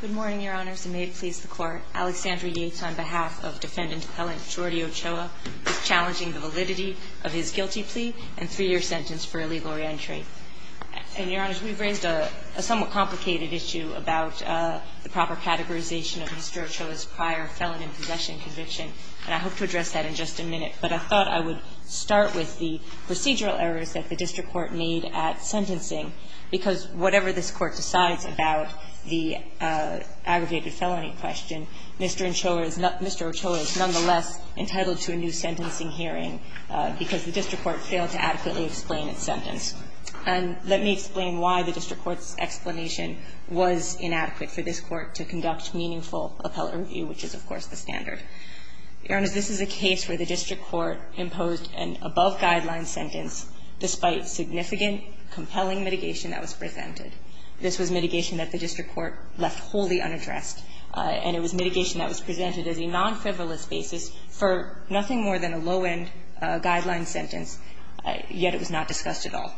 Good morning, Your Honors, and may it please the Court. Alexandra Yates on behalf of Defendant Appellant Jordy Ochoa is challenging the validity of his guilty plea and three-year sentence for illegal re-entry. And, Your Honors, we've raised a somewhat complicated issue about the proper categorization of Mr. Ochoa's prior felon in possession conviction, and I hope to address that in just a minute, but I thought I would start with the procedural errors that the District Court made at sentencing, because whatever this Court decides about the aggregated felony question, Mr. Ochoa is nonetheless entitled to a new sentencing hearing because the District Court failed to adequately explain its sentence. And let me explain why the District Court's explanation was inadequate for this Court to conduct meaningful appellate review, which is, of course, the standard. Your Honors, this is a case where the District Court imposed an above-guideline sentence despite significant, compelling mitigation that was presented. This was mitigation that the District Court left wholly unaddressed, and it was mitigation that was presented as a non-frivolous basis for nothing more than a low-end guideline sentence, yet it was not discussed at all.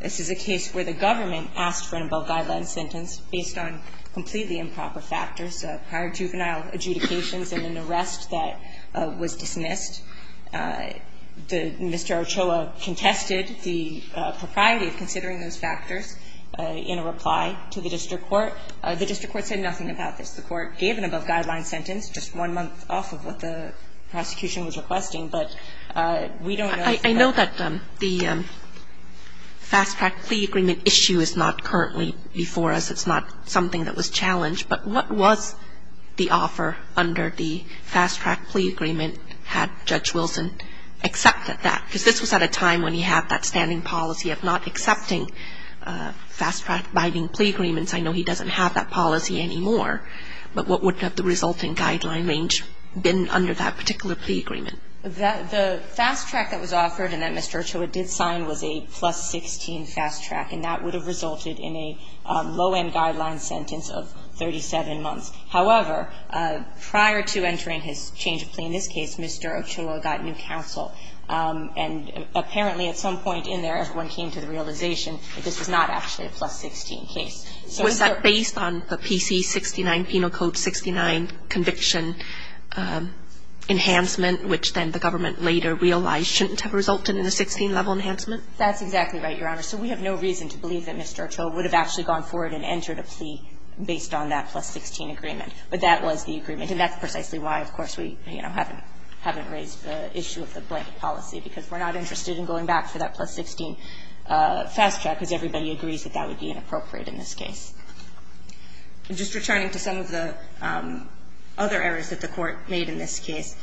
This is a case where the government asked for an above-guideline sentence based on completely improper factors, prior juvenile adjudications and an arrest that was dismissed. The Mr. Ochoa contested the propriety of considering those factors in a reply to the District Court. The District Court said nothing about this. The Court gave an above-guideline sentence just one month off of what the prosecution was requesting, but we don't know if that's the case. Kagan I know that the fast-track plea agreement issue is not currently before us. It's not something that was challenged. But what was the offer under the fast-track plea agreement had Judge Wilson accepted that? Because this was at a time when he had that standing policy of not accepting fast-track biding plea agreements. I know he doesn't have that policy anymore, but what would have the resulting guideline range been under that particular plea agreement? The fast-track that was offered and that Mr. Ochoa did sign was a plus-16 fast-track, and that would have resulted in a low-end guideline sentence of 37 months. However, prior to entering his change of plea in this case, Mr. Ochoa got new counsel. And apparently at some point in there, everyone came to the realization that this was not actually a plus-16 case. So is that based on the PC-69, Penal Code 69 conviction enhancement, which then the government later realized shouldn't have resulted in a 16-level enhancement? That's exactly right, Your Honor. So we have no reason to believe that Mr. Ochoa would have actually gone forward and entered a plea based on that plus-16 agreement. But that was the agreement, and that's precisely why, of course, we, you know, haven't raised the issue of the blanket policy, because we're not interested in going back for that plus-16 fast-track, because everybody agrees that that would be inappropriate in this case. Just returning to some of the other errors that the Court made in this case.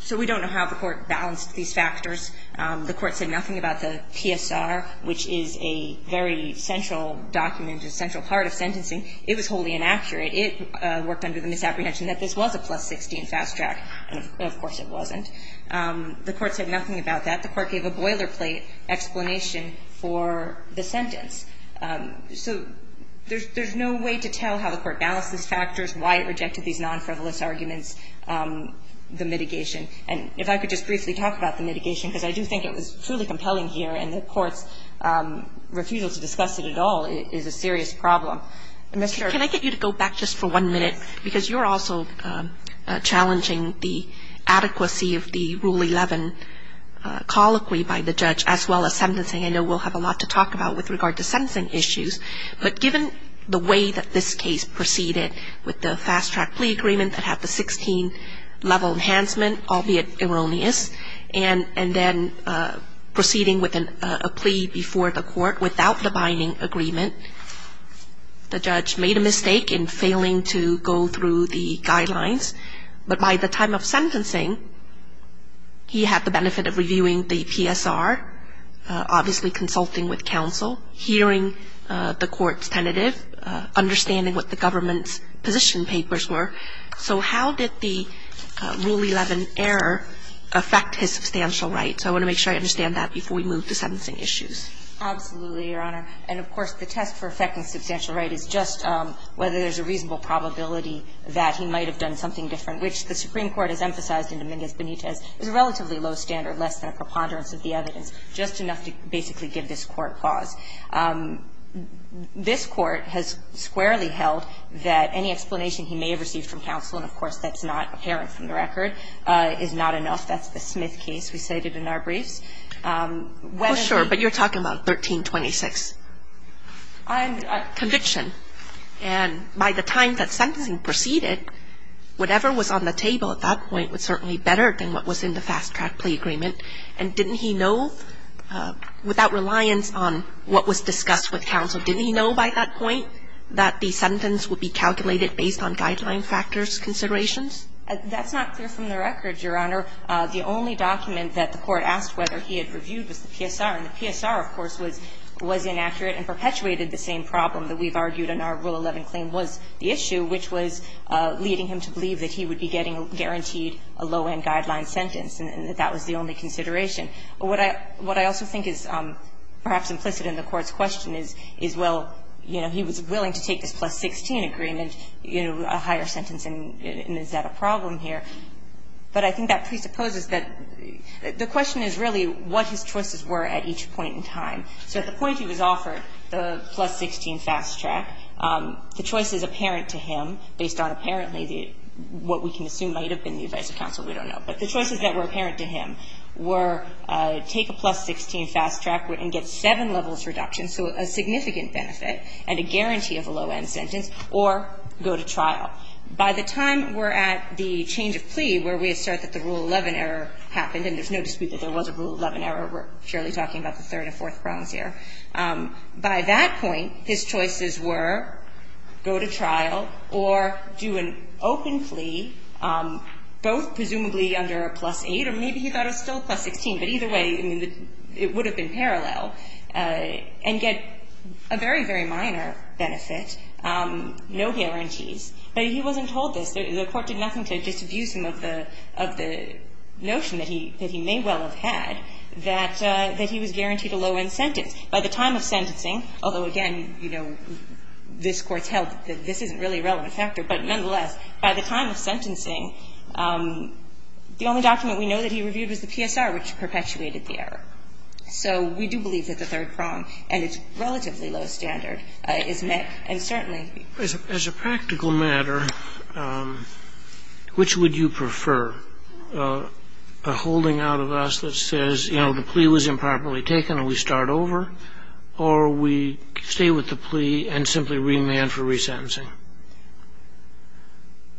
So we don't know how the Court balanced these factors. The Court said nothing about the PSR, which is a very central document, a central part of sentencing. It was wholly inaccurate. It worked under the misapprehension that this was a plus-16 fast-track, and of course it wasn't. The Court said nothing about that. The Court gave a boilerplate explanation for the sentence. So there's no way to tell how the Court balanced these factors, why it rejected these non-frivolous arguments, the mitigation. And if I could just briefly talk about the mitigation, because I do think it was truly compelling here, and the Court's refusal to discuss it at all is a serious problem. Ms. Sherry. Can I get you to go back just for one minute, because you're also challenging the adequacy of the Rule 11 colloquy by the judge, as well as sentencing. I know we'll have a lot to talk about with regard to sentencing issues. But given the way that this case proceeded with the fast-track plea agreement that had the 16-level enhancement, albeit erroneous, and then proceeding with a plea before the Court without the binding agreement, the judge made a mistake in failing to go through the guidelines. But by the time of sentencing, he had the benefit of reviewing the PSR, obviously consulting with counsel, hearing the Court's tentative, understanding what the government's position papers were. So how did the Rule 11 error affect his substantial rights? I want to make sure I understand that before we move to sentencing issues. Absolutely, Your Honor. And, of course, the test for affecting substantial right is just whether there's a reasonable probability that he might have done something different, which the Supreme Court has emphasized in Dominguez-Benitez is a relatively low standard, less than a preponderance of the evidence, just enough to basically give this Court cause. This Court has squarely held that any explanation he may have received from counsel and, of course, that's not apparent from the record, is not enough. That's the Smith case we cited in our briefs. Well, sure, but you're talking about 1326 conviction. And by the time that sentencing proceeded, whatever was on the table at that point was certainly better than what was in the fast-track plea agreement. And didn't he know, without reliance on what was discussed with counsel, didn't he know by that point that the sentence would be calculated based on guideline factors considerations? That's not clear from the record, Your Honor. The only document that the Court asked whether he had reviewed was the PSR. And the PSR, of course, was inaccurate and perpetuated the same problem that we've argued in our Rule 11 claim was the issue, which was leading him to believe that he would be getting guaranteed a low-end guideline sentence, and that that was the only consideration. What I also think is perhaps implicit in the Court's question is, well, you know, he was willing to take this plus-16 agreement, you know, a higher sentence, and is that a problem here? But I think that presupposes that the question is really what his choices were at each point in time. So at the point he was offered the plus-16 fast-track, the choices apparent to him based on apparently the what we can assume might have been the advice of counsel, we don't know, but the choices that were apparent to him were take a plus-16 fast-track and get seven levels reduction, so a significant benefit and a guarantee of a low-end sentence, or go to trial. By the time we're at the change of plea where we assert that the Rule 11 error happened, and there's no dispute that there was a Rule 11 error. We're purely talking about the third and fourth grounds here. By that point, his choices were go to trial or do an open plea, both presumably under a plus-8 or maybe he thought a still plus-16, but either way, I mean, it would have been parallel, and get a very, very minor benefit, no guarantees. But he wasn't told this. The Court did nothing to just abuse him of the notion that he may well have had, that he was guaranteed a low-end sentence. By the time of sentencing, although again, you know, this Court's held that this isn't really a relevant factor, but nonetheless, by the time of sentencing, the only document we know that he reviewed was the PSR, which perpetuated the error. So we do believe that the third prong and its relatively low standard is met, and certainly be true. As a practical matter, which would you prefer, a holding out of us that says, you know, the plea was improperly taken and we start over, or we stay with the plea and simply remand for resentencing?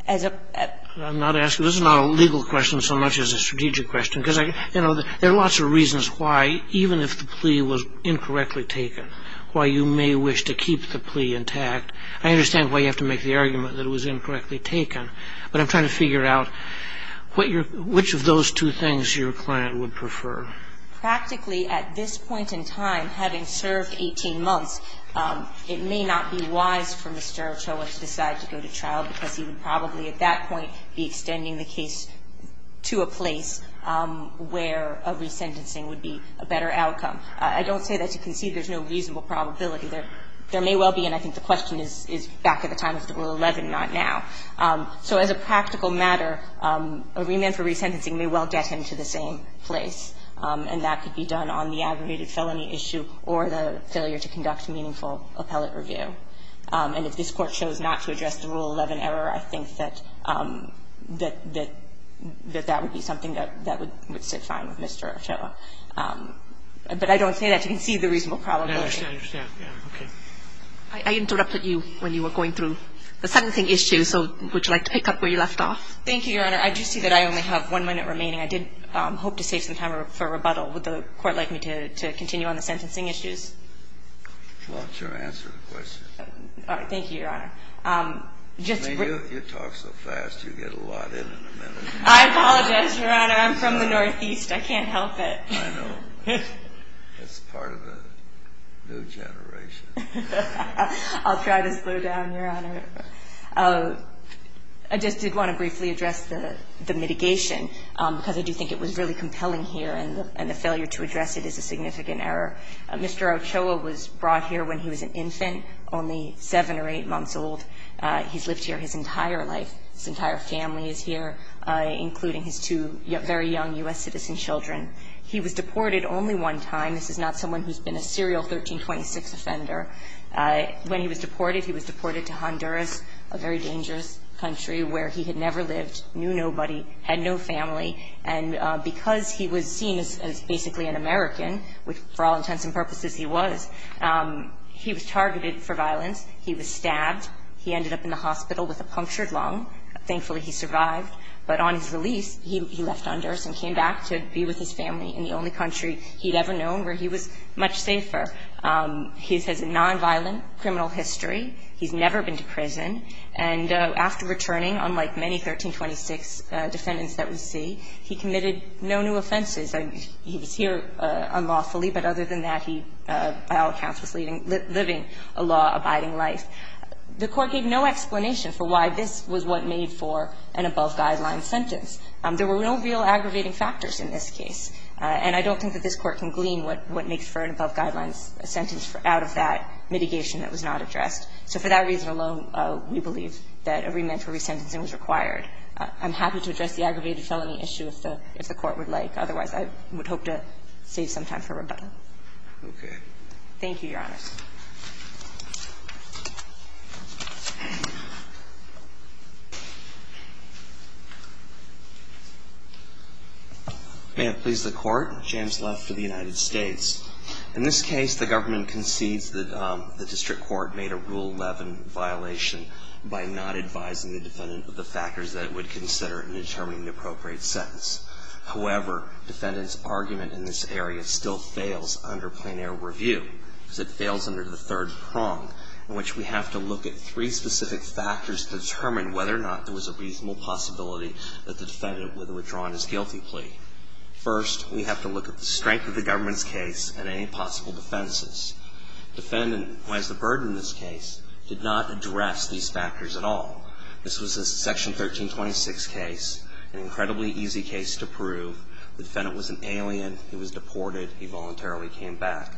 I'm not asking, this is not a legal question so much as a strategic question, because, you know, there are lots of reasons why, even if the plea was incorrectly taken, why you may wish to keep the plea intact. I understand why you have to make the argument that it was incorrectly taken, but I'm trying to figure out what your, which of those two things your client would prefer. Practically, at this point in time, having served 18 months, it may not be wise for Mr. Ochoa to decide to go to trial, because he would probably at that point be extending the case to a place where a resentencing would be a better outcome. I don't say that to concede there's no reasonable probability. There may well be, and I think the question is back at the time of Rule 11, not now. So as a practical matter, a remand for resentencing may well get him to the same place, and that could be done on the aggregated felony issue or the failure to conduct meaningful appellate review. And if this Court chose not to address the Rule 11 error, I think that that would be something that would sit fine with Mr. Ochoa. But I don't say that to concede the reasonable probability. I understand. Okay. I interrupted you when you were going through the sentencing issue. So would you like to pick up where you left off? Thank you, Your Honor. I do see that I only have one minute remaining. I did hope to save some time for rebuttal. Would the Court like me to continue on the sentencing issues? Well, sure. Answer the question. Thank you, Your Honor. You talk so fast, you get a lot in in a minute. I apologize, Your Honor. I'm from the Northeast. I can't help it. I know. It's part of the new generation. I'll try to slow down, Your Honor. I just did want to briefly address the mitigation, because I do think it was really compelling here, and the failure to address it is a significant error. Mr. Ochoa was brought here when he was an infant, only 7 or 8 months old. He's lived here his entire life. His entire family is here, including his two very young U.S. citizen children. He was deported only one time. This is not someone who's been a serial 1326 offender. When he was deported, he was deported to Honduras, a very dangerous country, where he had never lived, knew nobody, had no family. And because he was seen as basically an American, which for all intents and purposes he was, he was targeted for violence. He was stabbed. He ended up in the hospital with a punctured lung. Thankfully, he survived. But on his release, he left Honduras and came back to be with his family in the only country he'd ever known where he was much safer. He has a nonviolent criminal history. He's never been to prison. And after returning, unlike many 1326 defendants that we see, he committed no new offenses. He was here unlawfully, but other than that, he, by all accounts, was living a law-abiding life. The Court gave no explanation for why this was what made for an above-guideline sentence. There were no real aggravating factors in this case, and I don't think that this was an above-guideline sentence out of that mitigation that was not addressed. So for that reason alone, we believe that a remand for resentencing was required. I'm happy to address the aggravated felony issue if the Court would like. Otherwise, I would hope to save some time for rebuttal. Thank you, Your Honor. May it please the Court. James Love for the United States. In this case, the government concedes that the district court made a Rule 11 violation by not advising the defendant of the factors that it would consider in determining the appropriate sentence. However, defendant's argument in this area still fails under plein air review, because it fails under the third prong, in which we have to look at three specific factors to determine whether or not there was a reasonable possibility that the defendant would have withdrawn his guilty plea. First, we have to look at the strength of the government's case and any possible defenses. Defendant, who has the burden in this case, did not address these factors at all. This was a Section 1326 case, an incredibly easy case to prove. The defendant was an alien. He was deported. He voluntarily came back.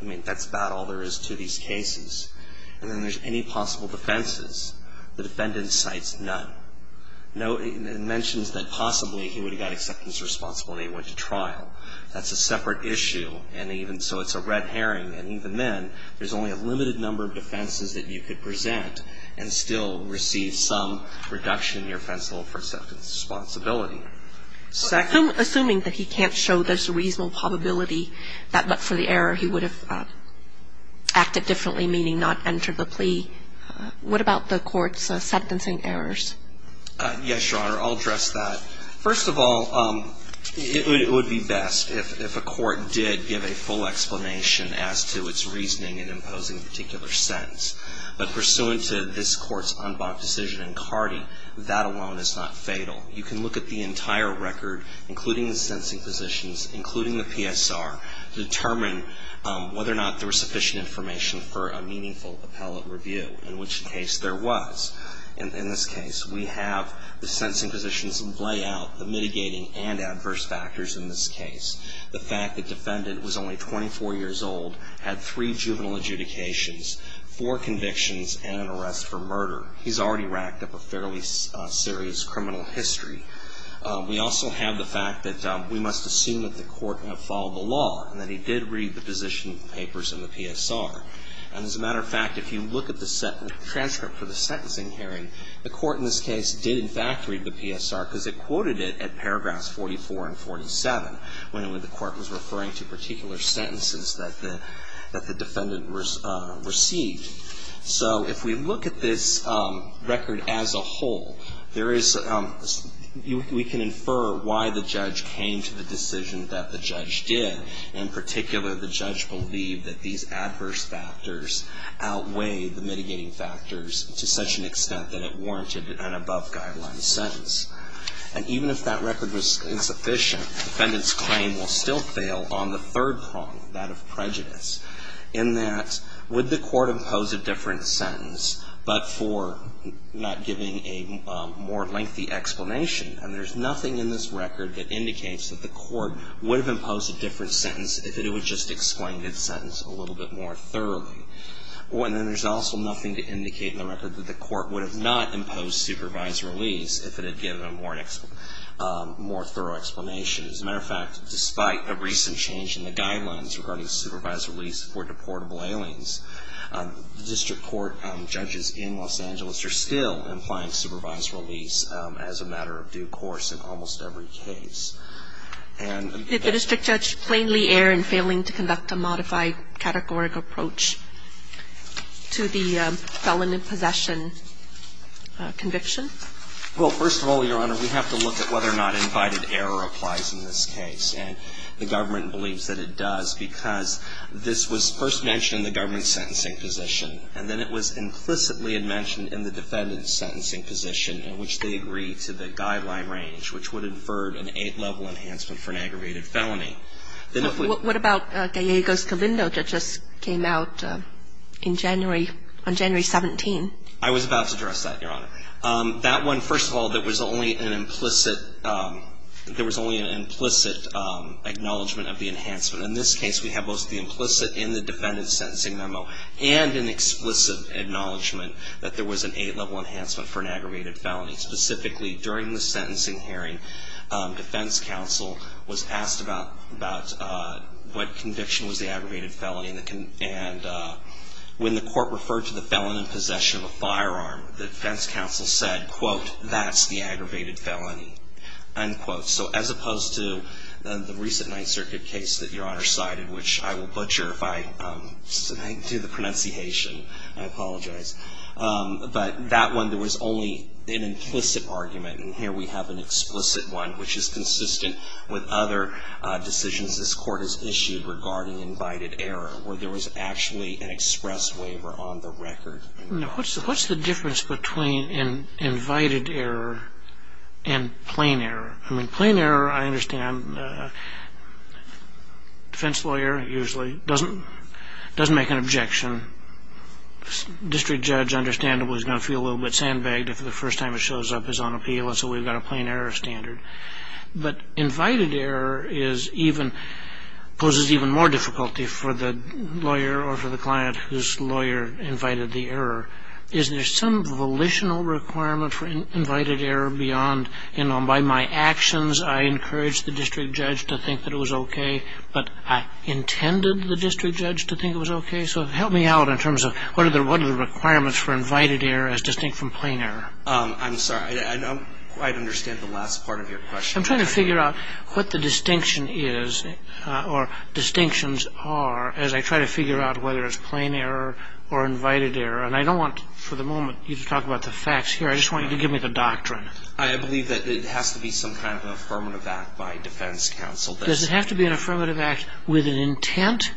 I mean, that's about all there is to these cases. And then there's any possible defenses. The defendant cites none. It mentions that possibly he would have got acceptance of responsibility and went to trial. That's a separate issue. And even so, it's a red herring. And even then, there's only a limited number of defenses that you could present and still receive some reduction in your offense level for acceptance of responsibility. Second? Assuming that he can't show there's a reasonable probability that but for the error he would have acted differently, meaning not enter the plea, what about the court's sentencing errors? Yes, Your Honor. I'll address that. First of all, it would be best if a court did give a full explanation as to its reasoning in imposing a particular sentence. But pursuant to this Court's unblocked decision in Cardi, that alone is not fatal. You can look at the entire record, including the sentencing positions, including the PSR, to determine whether or not there was sufficient information for a meaningful appellate review, in which case there was. In this case, we have the sentencing positions lay out the mitigating and adverse factors in this case. The fact that the defendant was only 24 years old, had three juvenile adjudications, four convictions, and an arrest for murder. He's already racked up a fairly serious criminal history. We also have the fact that we must assume that the court followed the law and that he did read the position papers in the PSR. And as a matter of fact, if you look at the transcript for the sentencing hearing, the court in this case did in fact read the PSR because it quoted it at paragraphs 44 and 47, when the court was referring to particular sentences that the defendant received. So if we look at this record as a whole, there is, we can infer why the judge came to the decision that the judge did. In particular, the judge believed that these adverse factors outweigh the mitigating factors to such an extent that it warranted an above guideline sentence. And even if that record was insufficient, the defendant's claim will still fail on the third prong, that of prejudice. In that, would the court impose a different sentence but for not giving a more lengthy explanation? And there's nothing in this record that indicates that the court would have imposed a different sentence if it had just explained its sentence a little bit more thoroughly. And then there's also nothing to indicate in the record that the court would have not imposed supervised release if it had given a more thorough explanation. As a matter of fact, despite a recent change in the guidelines regarding supervised release for deportable aliens, the district court judges in Los Angeles are still implying supervised release as a matter of due course in almost every case. And Did the district judge plainly err in failing to conduct a modified categorical approach to the felon in possession conviction? Well, first of all, Your Honor, we have to look at whether or not invited error applies in this case. And the government believes that it does because this was first mentioned in the government's sentencing position. And then it was implicitly mentioned in the defendant's sentencing position, in which they agreed to the guideline range which would infer an eight-level enhancement for an aggravated felony. What about Gallego's Covindo that just came out in January, on January 17? I was about to address that, Your Honor. That one, first of all, there was only an implicit, there was only an implicit acknowledgment of the enhancement. In this case, we have both the implicit in the defendant's sentencing memo and an explicit acknowledgment that there was an eight-level enhancement for an aggravated felony. Specifically, during the sentencing hearing, defense counsel was asked about what conviction was the aggravated felony. And when the court referred to the felon in possession of a firearm, the defense counsel said, quote, that's the aggravated felony, unquote. So as opposed to the recent Ninth Circuit case that Your Honor cited, which I will butcher if I do the pronunciation, I apologize. But that one, there was only an implicit argument. And here we have an explicit one, which is consistent with other decisions this court has issued regarding invited error, where there was actually an express waiver on the record. Now, what's the difference between invited error and plain error? I mean, plain error, I understand, defense lawyer usually doesn't make an objection. District judge, understandably, is going to feel a little bit sandbagged if the first time it shows up is on appeal, and so we've got a plain error standard. But invited error is even, poses even more difficulty for the lawyer or for the client whose lawyer invited the error. Is there some volitional requirement for invited error beyond, you know, by my actions I encouraged the district judge to think that it was okay, but I intended the district judge to think it was okay? So help me out in terms of what are the requirements for invited error as distinct from plain error? I'm sorry, I don't quite understand the last part of your question. I'm trying to figure out what the distinction is, or distinctions are, as I try to figure out whether it's plain error or invited error. And I don't want, for the moment, you to talk about the facts here. I just want you to give me the doctrine. I believe that it has to be some kind of affirmative act by defense counsel. Does it have to be an affirmative act with an intent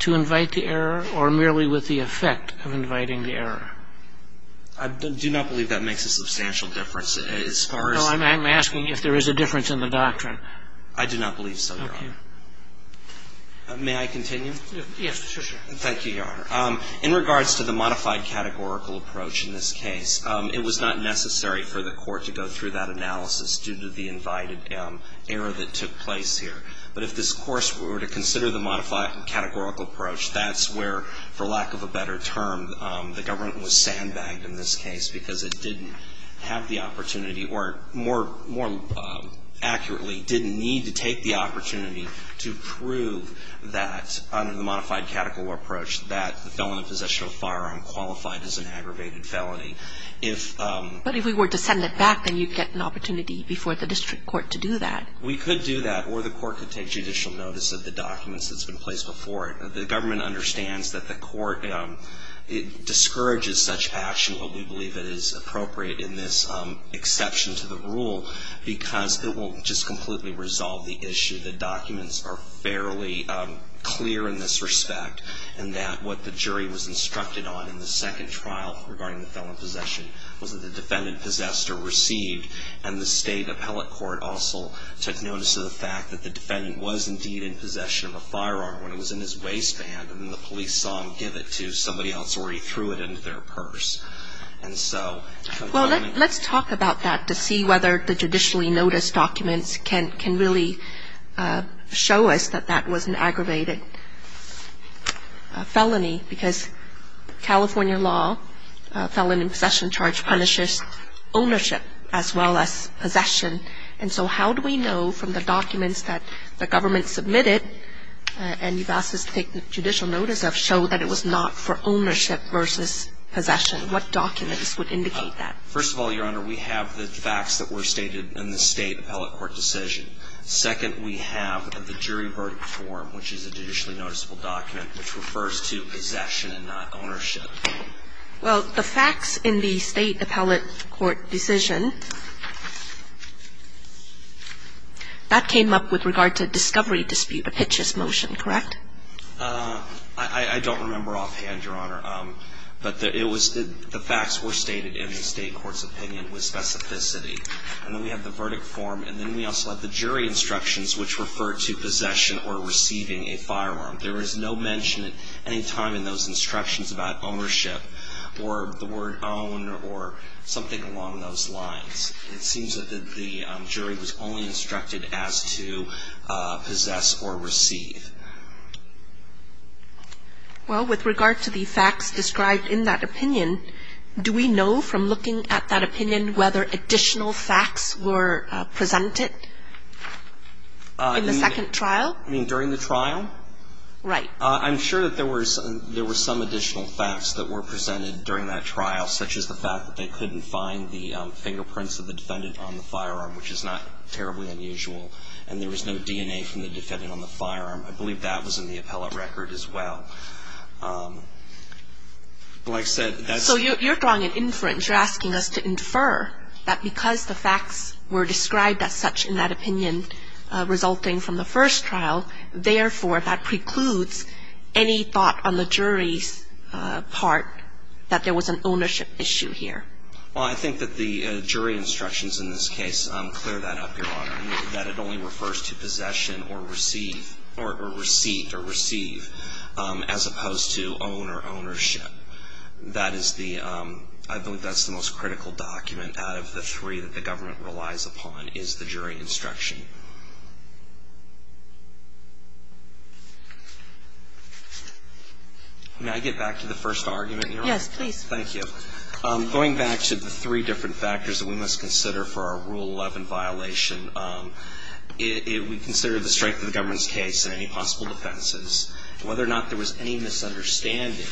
to invite the error, or merely with the effect of inviting the error? I do not believe that makes a substantial difference. No, I'm asking if there is a difference in the doctrine. I do not believe so, Your Honor. May I continue? Yes, sure, sure. Thank you, Your Honor. In regards to the modified categorical approach in this case, it was not necessary for the court to go through that analysis due to the invited error that took place here. But if this course were to consider the modified categorical approach, that's where, for lack of a better term, the government was sandbagged in this case because it didn't have the opportunity, or more accurately, didn't need to take the opportunity to prove that, under the modified categorical approach, that the felon in possession of a firearm qualified as an aggravated felony. But if we were to send it back, then you'd get an opportunity before the district court to do that. We could do that, or the court could take judicial notice of the documents that's been placed before it. The government understands that the court discourages such action, but we believe it is appropriate in this exception to the rule because it will just completely resolve the issue. The documents are fairly clear in this respect, and that what the jury was instructed on in the second trial regarding the felon in possession was that the defendant possessed or received, and the state appellate court also took notice of the fact that the defendant was indeed in possession of a firearm when it was in his waistband, and then the police saw him give it to somebody else, or he threw it into their purse. And so the government... Well, let's talk about that to see whether the judicially noticed documents can really show us that that was an aggravated felony, because California law, felony in possession charge punishes ownership as well as possession. And so how do we know from the documents that the government submitted and you've asked us to take judicial notice of, show that it was not for ownership versus possession? What documents would indicate that? First of all, Your Honor, we have the facts that were stated in the state appellate court decision. Second, we have the jury verdict form, which is a judicially noticeable document, which refers to possession and not ownership. Well, the facts in the state appellate court decision, that came up with regard to discovery dispute, a Pitch's motion, correct? I don't remember offhand, Your Honor. But it was the facts were stated in the state court's opinion with specificity. And then we have the verdict form. And then we also have the jury instructions, which refer to possession or receiving a firearm. There is no mention at any time in those instructions about ownership or the word own or something along those lines. It seems that the jury was only instructed as to possess or receive. Well, with regard to the facts described in that opinion, do we know from looking at that opinion whether additional facts were presented in the second trial? I mean, during the trial? Right. I'm sure that there were some additional facts that were presented during that trial, such as the fact that they couldn't find the fingerprints of the defendant on the firearm, which is not terribly unusual. And there was no DNA from the defendant on the firearm. I believe that was in the appellate record as well. Like I said, that's the question. So you're drawing an inference. You're asking us to infer that because the facts were described as such in that opinion resulting from the first trial, therefore, that precludes any thought on the jury's part that there was an ownership issue here. Well, I think that the jury instructions in this case clear that up, Your Honor, that it only refers to possession or receive or receipt or receive as opposed to own or ownership. That is the ‑‑ I believe that's the most critical document out of the three that the government relies upon is the jury instruction. May I get back to the first argument, Your Honor? Yes, please. Thank you. Going back to the three different factors that we must consider for our Rule 11 violation, we consider the strength of the government's case and any possible whether or not there was any misunderstanding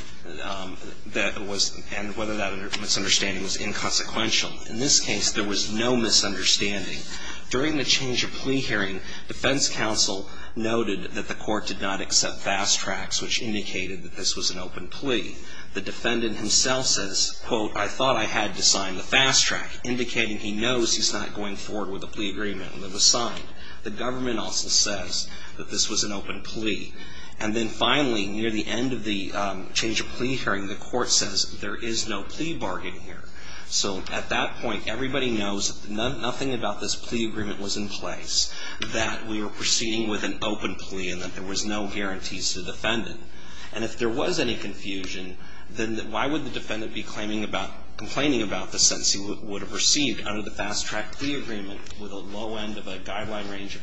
that was ‑‑ and whether that misunderstanding was inconsequential. In this case, there was no misunderstanding. During the change of plea hearing, defense counsel noted that the court did not accept fast tracks, which indicated that this was an open plea. The defendant himself says, quote, I thought I had to sign the fast track, indicating he knows he's not going forward with a plea agreement and that it was signed. The government also says that this was an open plea. And then finally, near the end of the change of plea hearing, the court says there is no plea bargain here. So at that point, everybody knows that nothing about this plea agreement was in place, that we were proceeding with an open plea and that there was no guarantees to the defendant. And if there was any confusion, then why would the defendant be complaining about the sentence he would have received under the fast track plea agreement with a low end of a guideline range of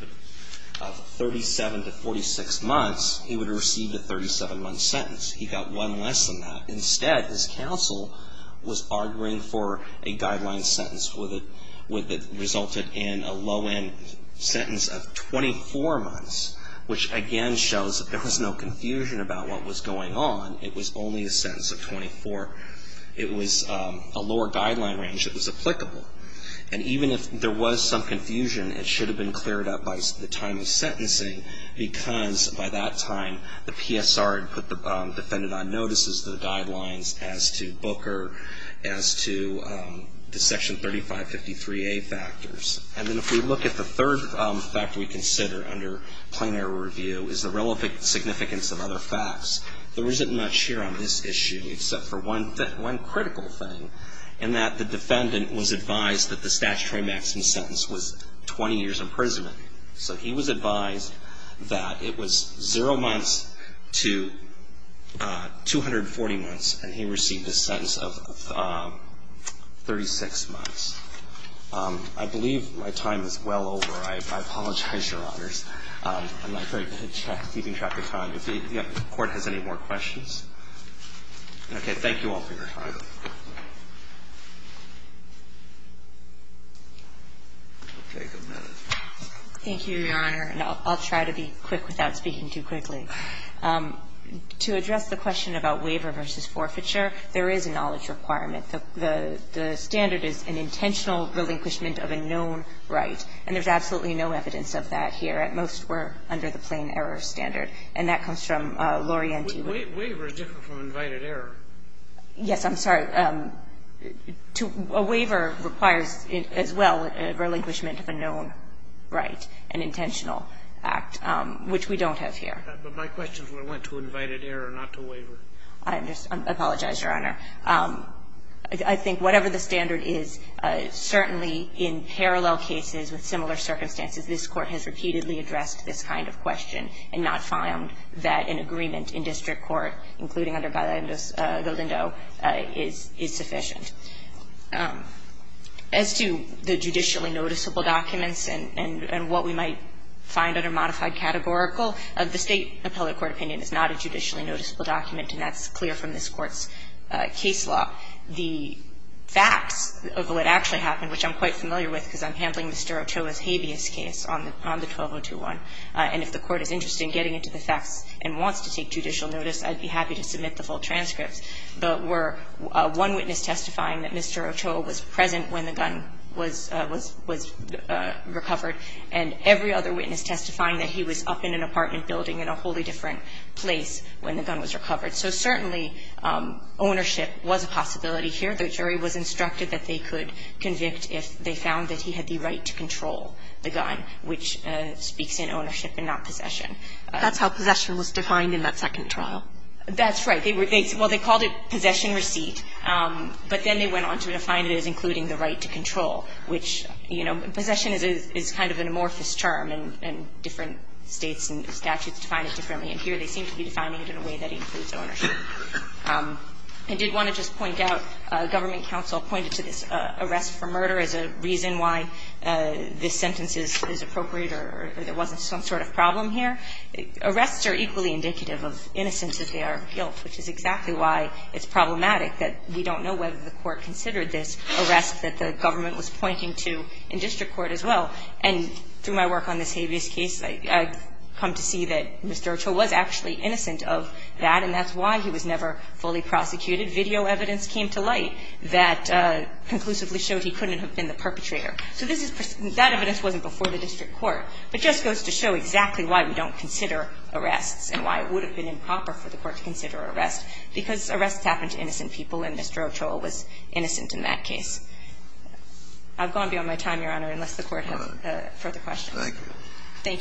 37 to 46 months, he would have received a 37‑month sentence. He got one less than that. Instead, his counsel was arguing for a guideline sentence with a ‑‑ resulted in a low end sentence of 24 months, which again shows that there was no confusion about what was going on. It was only a sentence of 24. It was a lower guideline range that was applicable. And even if there was some confusion, it should have been cleared up by the time of sentencing because by that time, the PSR had put the defendant on notices to the guidelines as to Booker, as to the section 3553A factors. And then if we look at the third factor we consider under plenary review is the relevance and significance of other facts. There isn't much here on this issue except for one critical thing in that the defendant was advised that the statutory maximum sentence was 20 years imprisonment. So he was advised that it was zero months to 240 months, and he received a sentence of 36 months. I believe my time is well over. I apologize, Your Honors. I'm not very good at keeping track of time. If the court has any more questions. Okay. Thank you all for your time. We'll take a minute. Thank you, Your Honor. And I'll try to be quick without speaking too quickly. To address the question about waiver versus forfeiture, there is a knowledge requirement. The standard is an intentional relinquishment of a known right. And there's absolutely no evidence of that here. At most, we're under the plain error standard. And that comes from Lorienti. Waiver is different from invited error. Yes, I'm sorry. A waiver requires, as well, a relinquishment of a known right, an intentional act, which we don't have here. But my question is whether it went to invited error, not to waiver. I apologize, Your Honor. I think whatever the standard is, certainly in parallel cases with similar circumstances, this Court has repeatedly addressed this kind of question and not found that an agreement in district court, including under Galindo, is sufficient. As to the judicially noticeable documents and what we might find under modified categorical, the State appellate court opinion is not a judicially noticeable document, and that's clear from this Court's case law. The facts of what actually happened, which I'm quite familiar with because I'm handling Mr. Ochoa's habeas case on the 12021, and if the Court is interested in getting into the facts and wants to take judicial notice, I'd be happy to submit the full transcripts that were one witness testifying that Mr. Ochoa was present when the gun was recovered, and every other witness testifying that he was up in an apartment building in a wholly different place when the gun was recovered. So certainly ownership was a possibility here. The jury was instructed that they could convict if they found that he had the right to control the gun, which speaks in ownership and not possession. That's how possession was defined in that second trial. That's right. Well, they called it possession receipt, but then they went on to define it as including the right to control, which, you know, possession is kind of an amorphous term, and different States and statutes define it differently. And here they seem to be defining it in a way that includes ownership. I did want to just point out, government counsel pointed to this arrest for murder as a reason why this sentence is appropriate or there wasn't some sort of problem here. Arrests are equally indicative of innocence if they are repealed, which is exactly why it's problematic that we don't know whether the Court considered this arrest that the government was pointing to in district court as well. And through my work on this habeas case, I've come to see that Mr. Ochoa was actually innocent of that, and that's why he was never fully prosecuted. And it's not that the court didn't consider the arrest, but the fact that the video evidence came to light that conclusively showed he couldn't have been the perpetrator. So this is pers — that evidence wasn't before the district court, but just goes to show exactly why we don't consider arrests and why it would have been improper for the court to consider arrest, because arrests happen to innocent people, and Mr. Ochoa was innocent in that case. I've gone beyond my time, Your Honor, unless the Court has further questions. Thank you.